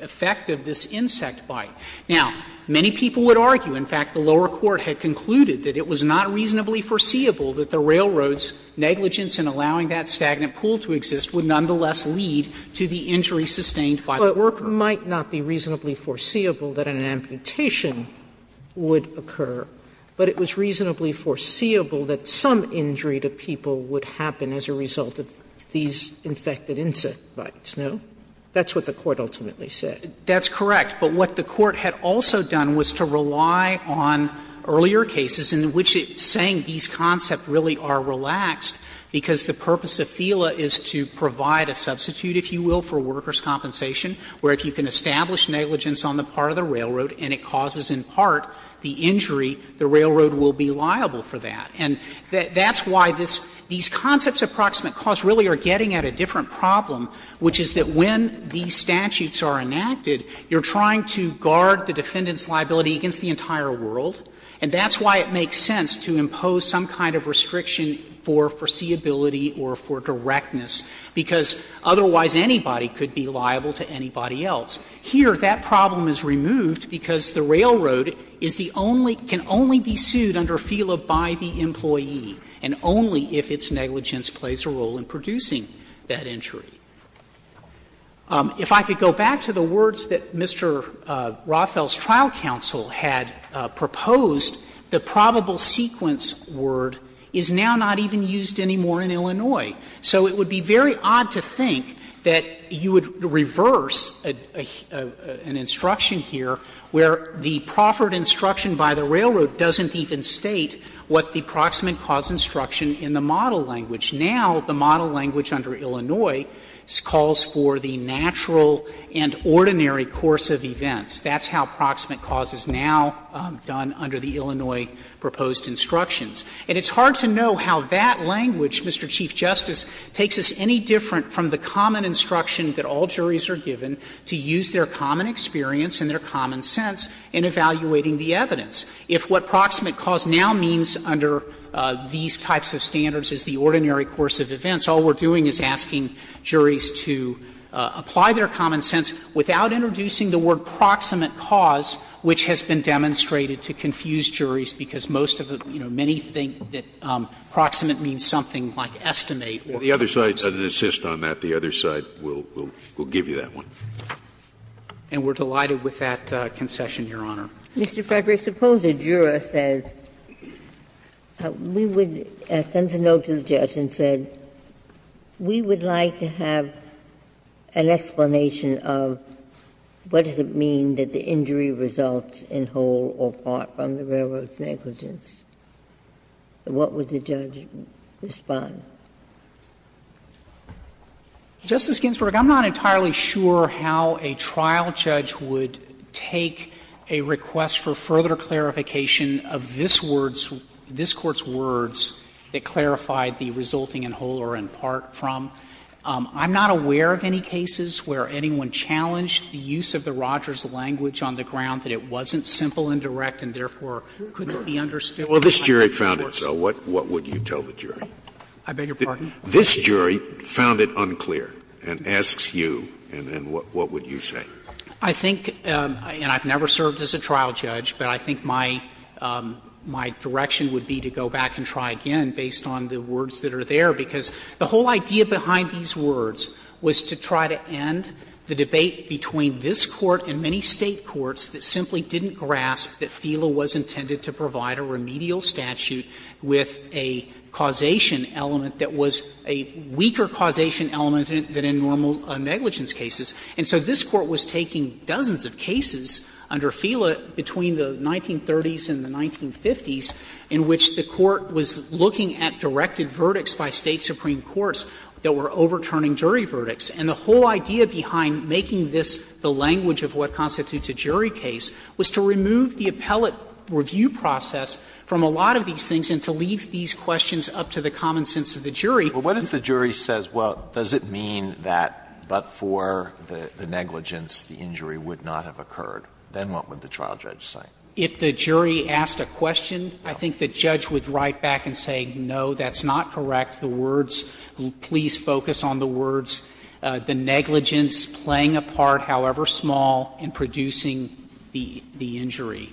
effect of this insect bite. Now, many people would argue, in fact, the lower court had concluded that it was not reasonably foreseeable that the railroad's negligence in allowing that stagnant pool to exist would nonetheless lead to the injury sustained by the worker. Sotomayor But it might not be reasonably foreseeable that an amputation would occur, but it was reasonably foreseeable that some injury to people would happen as a result of these infected insect bites, no? That's what the Court ultimately said. That's correct. But what the Court had also done was to rely on earlier cases in which it's saying these concepts really are relaxed because the purpose of FELA is to provide a substitute, if you will, for workers' compensation, where if you can establish negligence on the part of the railroad and it causes in part the injury, the railroad will be liable for that. And that's why this – these concepts of proximate cause really are getting at a different problem, which is that when these statutes are enacted, you're trying to guard the defendant's liability against the entire world, and that's why it makes sense to impose some kind of restriction for foreseeability or for directness, because otherwise anybody could be liable to anybody else. Here, that problem is removed because the railroad is the only – can only be sued under FELA by the employee, and only if its negligence plays a role in producing that injury. If I could go back to the words that Mr. Roffel's trial counsel had proposed, the probable sequence word is now not even used anymore in Illinois. So it would be very odd to think that you would reverse an instruction here where the proffered instruction by the railroad doesn't even state what the proximate cause instruction in the model language. Now, the model language under Illinois calls for the natural and ordinary course of events. That's how proximate cause is now done under the Illinois proposed instructions. And it's hard to know how that language, Mr. Chief Justice, takes us any different from the common instruction that all juries are given to use their common experience and their common sense in evaluating the evidence. If what proximate cause now means under these types of standards is the ordinary course of events, all we're doing is asking juries to apply their common sense without introducing the word proximate cause, which has been demonstrated to confuse juries, because most of the – you know, many think that proximate means something like estimate or proximate. Scalia. The other side doesn't insist on that. The other side will give you that one. And we're delighted with that concession, Your Honor. Ginsburg. Mr. Frederick, suppose a juror says, we would send a note to the judge and said, we would like to have an explanation of what does it mean that the injury results in whole or part from the railroad's negligence. What would the judge respond? Frederick, I'm not entirely sure how a trial judge would take a request for further clarification of this word's – this Court's words that clarified the resulting in whole or in part from. I'm not aware of any cases where anyone challenged the use of the Rogers language on the ground that it wasn't simple and direct and therefore couldn't be understood by the jury. Scalia. Well, this jury found it so. What would you tell the jury? I beg your pardon. This jury found it unclear and asks you, and then what would you say? I think, and I've never served as a trial judge, but I think my direction would be to go back and try again based on the words that are there, because the whole idea behind these words was to try to end the debate between this Court and many State courts that simply didn't grasp that FELA was intended to provide a remedial statute with a causation element that was a weaker causation element than in normal negligence cases. And so this Court was taking dozens of cases under FELA between the 1930s and the 1950s in which the Court was looking at directed verdicts by State supreme courts that were overturning jury verdicts. And the whole idea behind making this the language of what constitutes a jury case was to remove the appellate review process from a lot of these things and to leave these questions up to the common sense of the jury. But what if the jury says, well, does it mean that but for the negligence, the injury would not have occurred? Then what would the trial judge say? If the jury asked a question, I think the judge would write back and say, no, that's not correct. The words, please focus on the words, the negligence playing a part, however small, in producing the injury.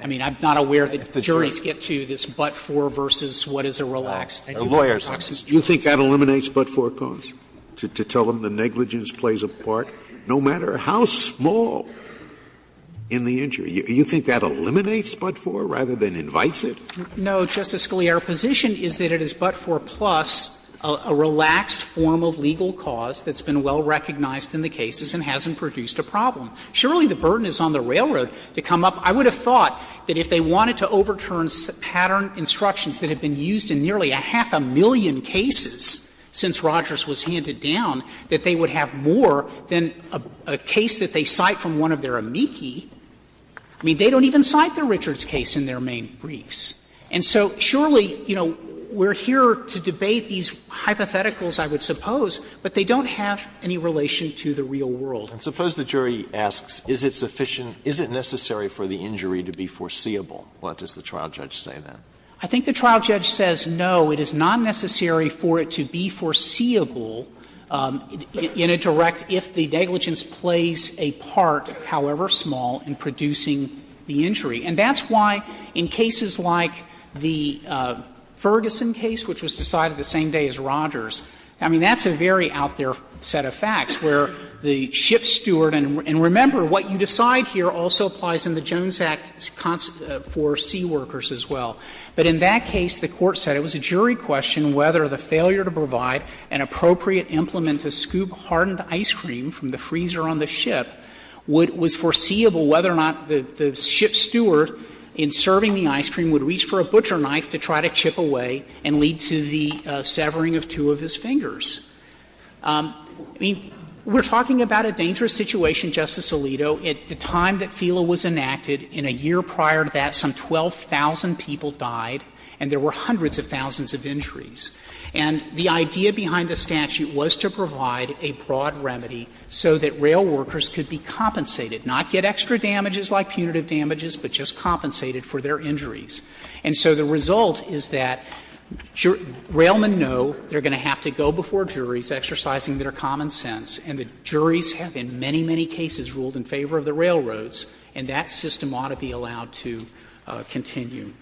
I mean, I'm not aware that the juries get to this but for versus what is a relaxed and what constitutes a jury. Scaliaro, do you think that eliminates but-for cause, to tell them the negligence plays a part, no matter how small in the injury? Do you think that eliminates but-for rather than invites it? No, Justice Scalia. Our position is that it is but-for plus a relaxed form of legal cause that's been well recognized in the cases and hasn't produced a problem. Surely, the burden is on the railroad to come up. I would have thought that if they wanted to overturn pattern instructions that have been used in nearly a half a million cases since Rogers was handed down, that they would have more than a case that they cite from one of their amici. I mean, they don't even cite the Richards case in their main briefs. And so surely, you know, we're here to debate these hypotheticals, I would suppose, but they don't have any relation to the real world. And suppose the jury asks, is it sufficient, is it necessary for the injury to be foreseeable? What does the trial judge say then? I think the trial judge says, no, it is not necessary for it to be foreseeable in a direct if the negligence plays a part, however small, in producing the injury. And that's why in cases like the Ferguson case, which was decided the same day as Rogers, I mean, that's a very out-there set of facts, where the ship steward and remember, what you decide here also applies in the Jones Act for seaworkers as well. But in that case, the Court said it was a jury question whether the failure to provide an appropriate implement to scoop hardened ice cream from the freezer on the ship was foreseeable, whether or not the ship steward in serving the ice cream would reach for a butcher knife to try to chip away and lead to the severing of two of his fingers. I mean, we're talking about a dangerous situation, Justice Alito. At the time that FELA was enacted, in a year prior to that, some 12,000 people died and there were hundreds of thousands of injuries. And the idea behind the statute was to provide a broad remedy so that rail workers could be compensated, not get extra damages like punitive damages, but just compensated for their injuries. And so the result is that railmen know they're going to have to go before juries exercising their common sense, and the juries have in many, many cases ruled in favor of the railroads, and that system ought to be allowed to continue.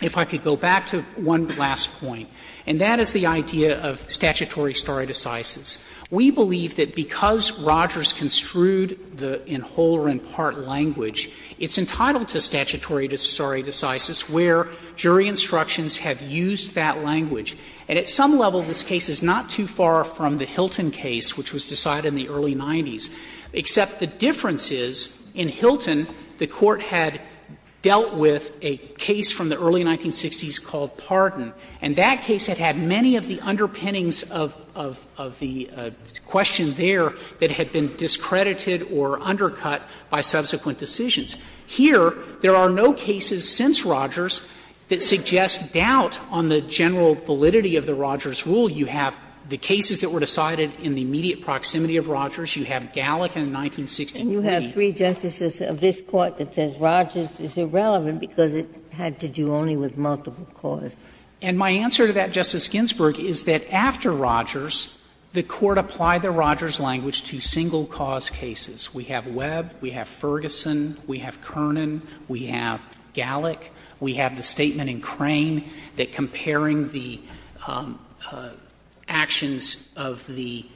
If I could go back to one last point, and that is the idea of statutory stare decisis. We believe that because Rogers construed the in whole or in part language, it's entitled to statutory stare decisis where jury instructions have used that language. And at some level, this case is not too far from the Hilton case, which was decided in the early 90s, except the difference is, in Hilton, the Court had dealt with a case from the early 1960s called Pardon, and that case had had many of the underpinnings of the question there that had been discredited or undercut by subsequent decisions. Here, there are no cases since Rogers that suggest doubt on the general validity of the Rogers rule. You have the cases that were decided in the immediate proximity of Rogers. You have Gallick in 1963. Ginsburg. And you have three justices of this Court that says Rogers is irrelevant because it had to do only with multiple cause. And my answer to that, Justice Ginsburg, is that after Rogers, the Court applied the Rogers language to single cause cases. We have Webb, we have Ferguson, we have Kernan, we have Gallick, we have the statement in Crane that comparing the actions of the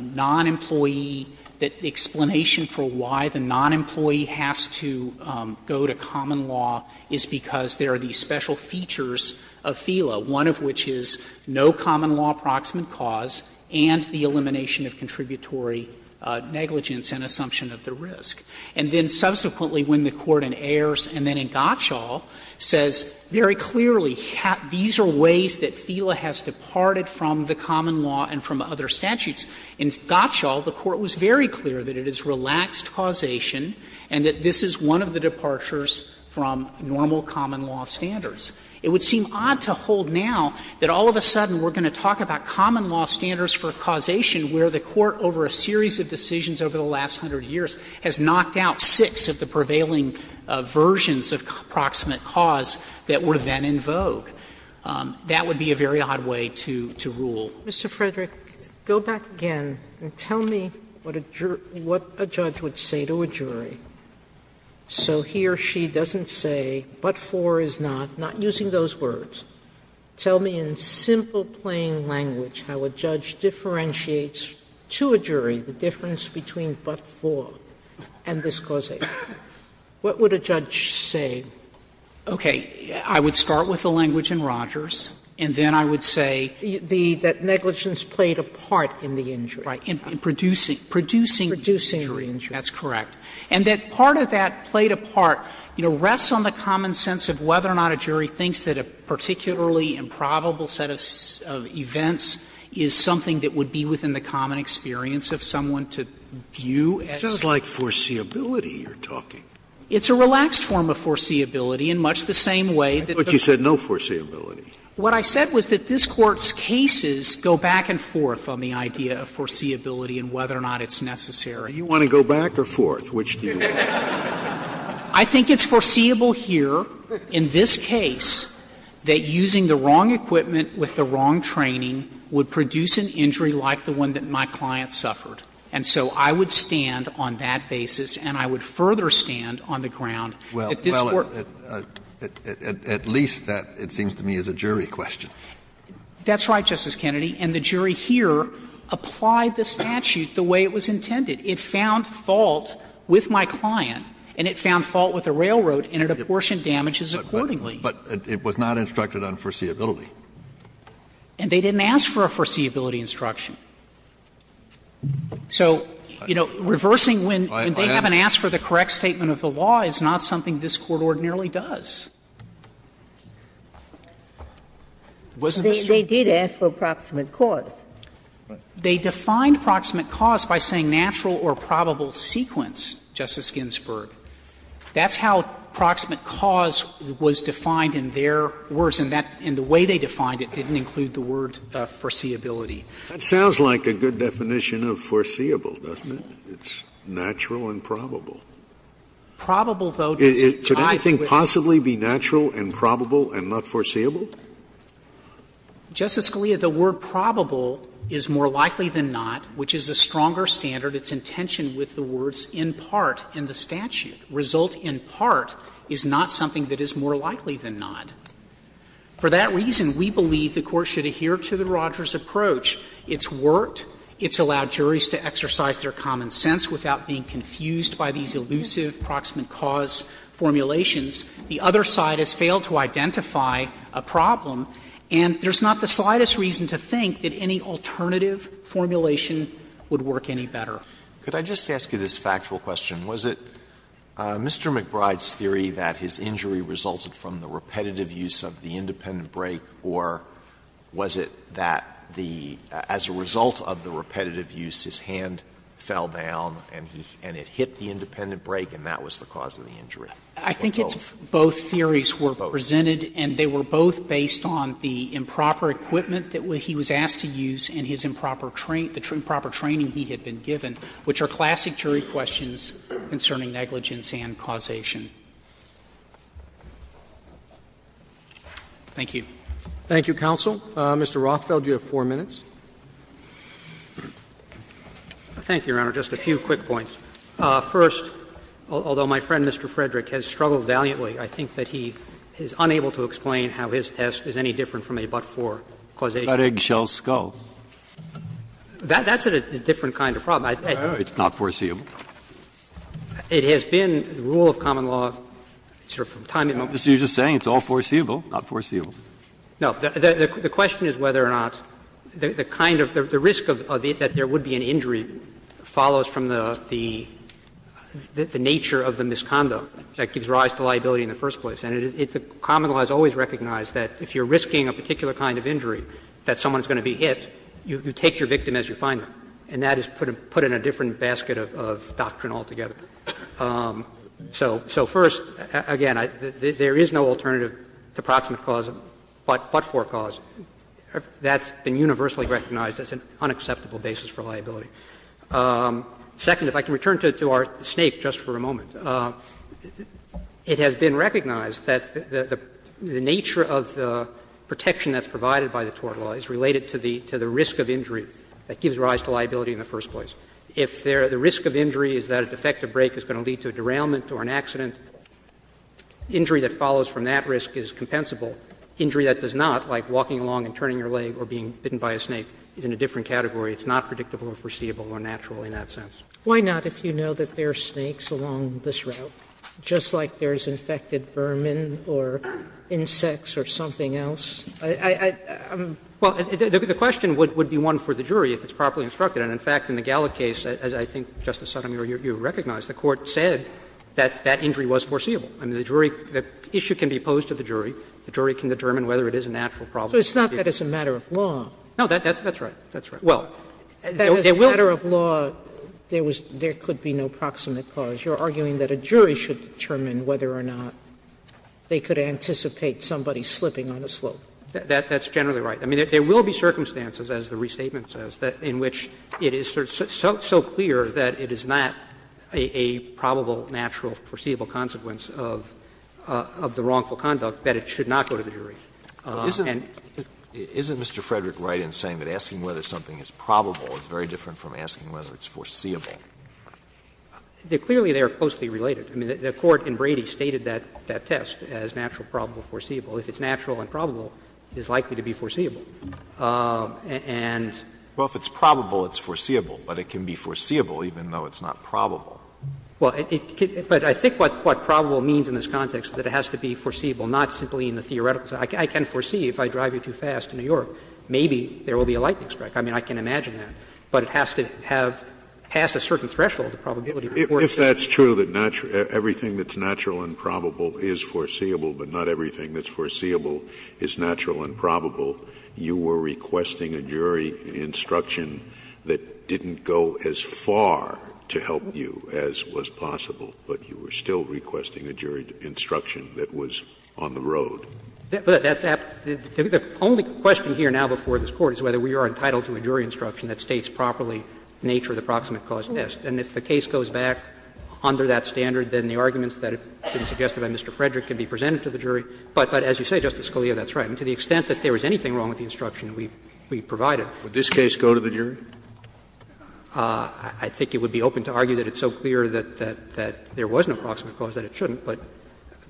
non-employee, that the explanation for why the non-employee has to go to common law is because there are these special features of FELA, one of which is no common law approximate cause and the elimination of contributory negligence and assumption of the risk. And then subsequently, when the Court in Ayers and then in Gottschall says very clearly these are ways that FELA has departed from the common law and from other statutes, in Gottschall the Court was very clear that it is relaxed causation and that this is one of the departures from normal common law standards. It would seem odd to hold now that all of a sudden we are going to talk about common law standards for causation where the Court over a series of decisions over the last hundred years has knocked out six of the prevailing versions of approximate cause that were then in vogue. That would be a very odd way to rule. Sotomayor, Mr. Frederick, go back again and tell me what a judge would say to a jury so he or she doesn't say what for is not, not using those words. Tell me in simple, plain language how a judge differentiates to a jury the difference between but for and this causation. What would a judge say? Frederick, I would start with the language in Rogers, and then I would say that negligence played a part in the injury. Sotomayor, in producing injury. Frederick, that's correct. And that part of that played a part, you know, rests on the common sense of whether or not a jury thinks that a particularly improbable set of events is something that would be within the common experience of someone to view as. Scalia It sounds like foreseeability you're talking. Frederick, it's a relaxed form of foreseeability in much the same way that the Court said. Scalia I thought you said no foreseeability. Frederick, what I said was that this Court's cases go back and forth on the idea of foreseeability and whether or not it's necessary. Scalia Do you want to go back or forth? Which do you want? Frederick, I think it's foreseeable here in this case that using the wrong equipment with the wrong training would produce an injury like the one that my client suffered. And so I would stand on that basis, and I would further stand on the ground that this Court. Kennedy Well, at least that, it seems to me, is a jury question. Frederick, that's right, Justice Kennedy. And the jury here applied the statute the way it was intended. It found fault with my client, and it found fault with the railroad, and it apportioned damages accordingly. Kennedy But it was not instructed on foreseeability. Frederick, and they didn't ask for a foreseeability instruction. So, you know, reversing when they haven't asked for the correct statement of the law is not something this Court ordinarily does. Wasn't this true? They did ask for approximate cause. They defined approximate cause by saying natural or probable sequence, Justice Ginsburg. That's how approximate cause was defined in their words, and that, in the way they defined it, didn't include the word foreseeability. Scalia That sounds like a good definition of foreseeable, doesn't it? It's natural and probable. Frederick, could anything possibly be natural and probable and not foreseeable? Frederick, Justice Scalia, the word probable is more likely than not, which is a stronger standard. It's in tension with the words in part in the statute. Result in part is not something that is more likely than not. For that reason, we believe the Court should adhere to the Rogers approach. It's worked. It's allowed juries to exercise their common sense without being confused by these elusive approximate cause formulations. The other side has failed to identify a problem, and there's not the slightest reason to think that any alternative formulation would work any better. Alito Could I just ask you this factual question? Was it Mr. McBride's theory that his injury resulted from the repetitive use of the independent break, or was it that the as a result of the repetitive use, his hand fell down and he and it hit the independent break and that was the cause of the injury? Frederick, Justice Scalia, the word probable is more likely than not, which is a stronger standard. I think it's both theories were presented, and they were both based on the improper equipment that he was asked to use and his improper training he had been given, which are classic jury questions concerning negligence and causation. Thank you. Roberts Thank you, counsel. Mr. Rothfeld, you have 4 minutes. Rothfeld Thank you, Your Honor. Just a few quick points. First, although my friend, Mr. Frederick, has struggled valiantly, I think that he is unable to explain how his test is any different from a but-for causation. Breyer But eggs shell skull. Rothfeld That's a different kind of problem. Breyer It's not foreseeable. Rothfeld It has been the rule of common law, sort of from time immemorial. Breyer You're just saying it's all foreseeable, not foreseeable. Rothfeld No. The question is whether or not the kind of the risk of it, that there would be an injury, follows from the nature of the misconduct that gives rise to liability in the first place. And it's a common law that's always recognized that if you're risking a particular kind of injury, that someone is going to be hit, you take your victim as you find them. And that is put in a different basket of doctrine altogether. So first, again, there is no alternative to proximate cause but-for cause. That's been universally recognized as an unacceptable basis for liability. Second, if I can return to our snake just for a moment, it has been recognized that the nature of the protection that's provided by the tort law is related to the risk of injury that gives rise to liability in the first place. If the risk of injury is that a defective brake is going to lead to a derailment or an accident, injury that follows from that risk is compensable. Injury that does not, like walking along and turning your leg or being bitten by a snake, is in a different category. It's not predictable or foreseeable or natural in that sense. Sotomayor Why not if you know that there are snakes along this route, just like there is infected vermin or insects or something else? I'm- Rothfeld Well, the question would be one for the jury if it's properly instructed. And, in fact, in the Galla case, as I think, Justice Sotomayor, you recognize, the Court said that that injury was foreseeable. I mean, the jury, the issue can be posed to the jury. The jury can determine whether it is a natural problem. Sotomayor So it's not that it's a matter of law. Rothfeld No, that's right. That's right. Well, there will- Sotomayor That as a matter of law, there was, there could be no proximate cause. You're arguing that a jury should determine whether or not they could anticipate somebody slipping on a slope. Rothfeld That's generally right. I mean, there will be circumstances, as the restatement says, in which it is so clear that it is not a probable, natural, foreseeable consequence of the wrongful conduct that it should not go to the jury. And- Alito Isn't Mr. Frederick right in saying that asking whether something is probable is very different from asking whether it's foreseeable? Rothfeld Clearly, they are closely related. I mean, the Court in Brady stated that test as natural, probable, foreseeable. If it's natural and probable, it is likely to be foreseeable. Alito Well, if it's probable, it's foreseeable. But it can be foreseeable even though it's not probable. Rothfeld Well, but I think what probable means in this context is that it has to be foreseeable, not simply in the theoretical sense. I can foresee if I drive you too fast in New York, maybe there will be a lightning strike. I mean, I can imagine that. But it has to have passed a certain threshold of probability before it's foreseeable. Scalia If that's true, that everything that's natural and probable is foreseeable, but not everything that's foreseeable is natural and probable, you were requesting a jury instruction that didn't go as far to help you as was possible, but you were still requesting a jury instruction that was on the road. Rothfeld But that's the only question here now before this Court is whether we are entitled to a jury instruction that states properly the nature of the proximate cause test. And if the case goes back under that standard, then the arguments that have been presented to the jury, but as you say, Justice Scalia, that's right. To the extent that there is anything wrong with the instruction we provided. Scalia Would this case go to the jury? Rothfeld I think it would be open to argue that it's so clear that there was no proximate cause that it shouldn't, but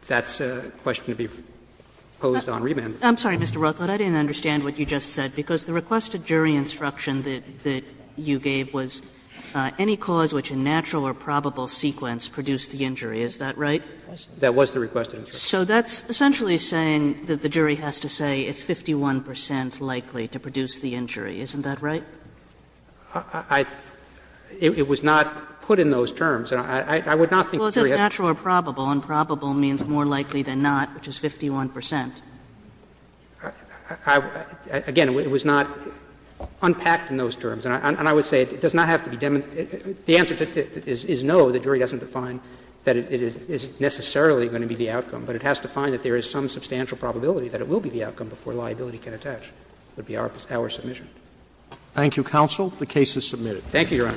that's a question to be posed on remand. Kagan I'm sorry, Mr. Rothfeld. I didn't understand what you just said, because the requested jury instruction that you gave was any cause which in natural or probable sequence produced the injury. Is that right? Rothfeld That was the requested instruction. Kagan So that's essentially saying that the jury has to say it's 51 percent likely to produce the injury. Isn't that right? Rothfeld I — it was not put in those terms. I would not think the jury has to say that. Kagan Well, it says natural or probable, and probable means more likely than not, which is 51 percent. Rothfeld Again, it was not unpacked in those terms. And I would say it does not have to be demonstrated. The answer is no, the jury doesn't define that it is necessarily going to be the outcome. But it has to find that there is some substantial probability that it will be the outcome before liability can attach. That would be our submission. Roberts Thank you, counsel. The case is submitted. Roberts Thank you, Your Honor.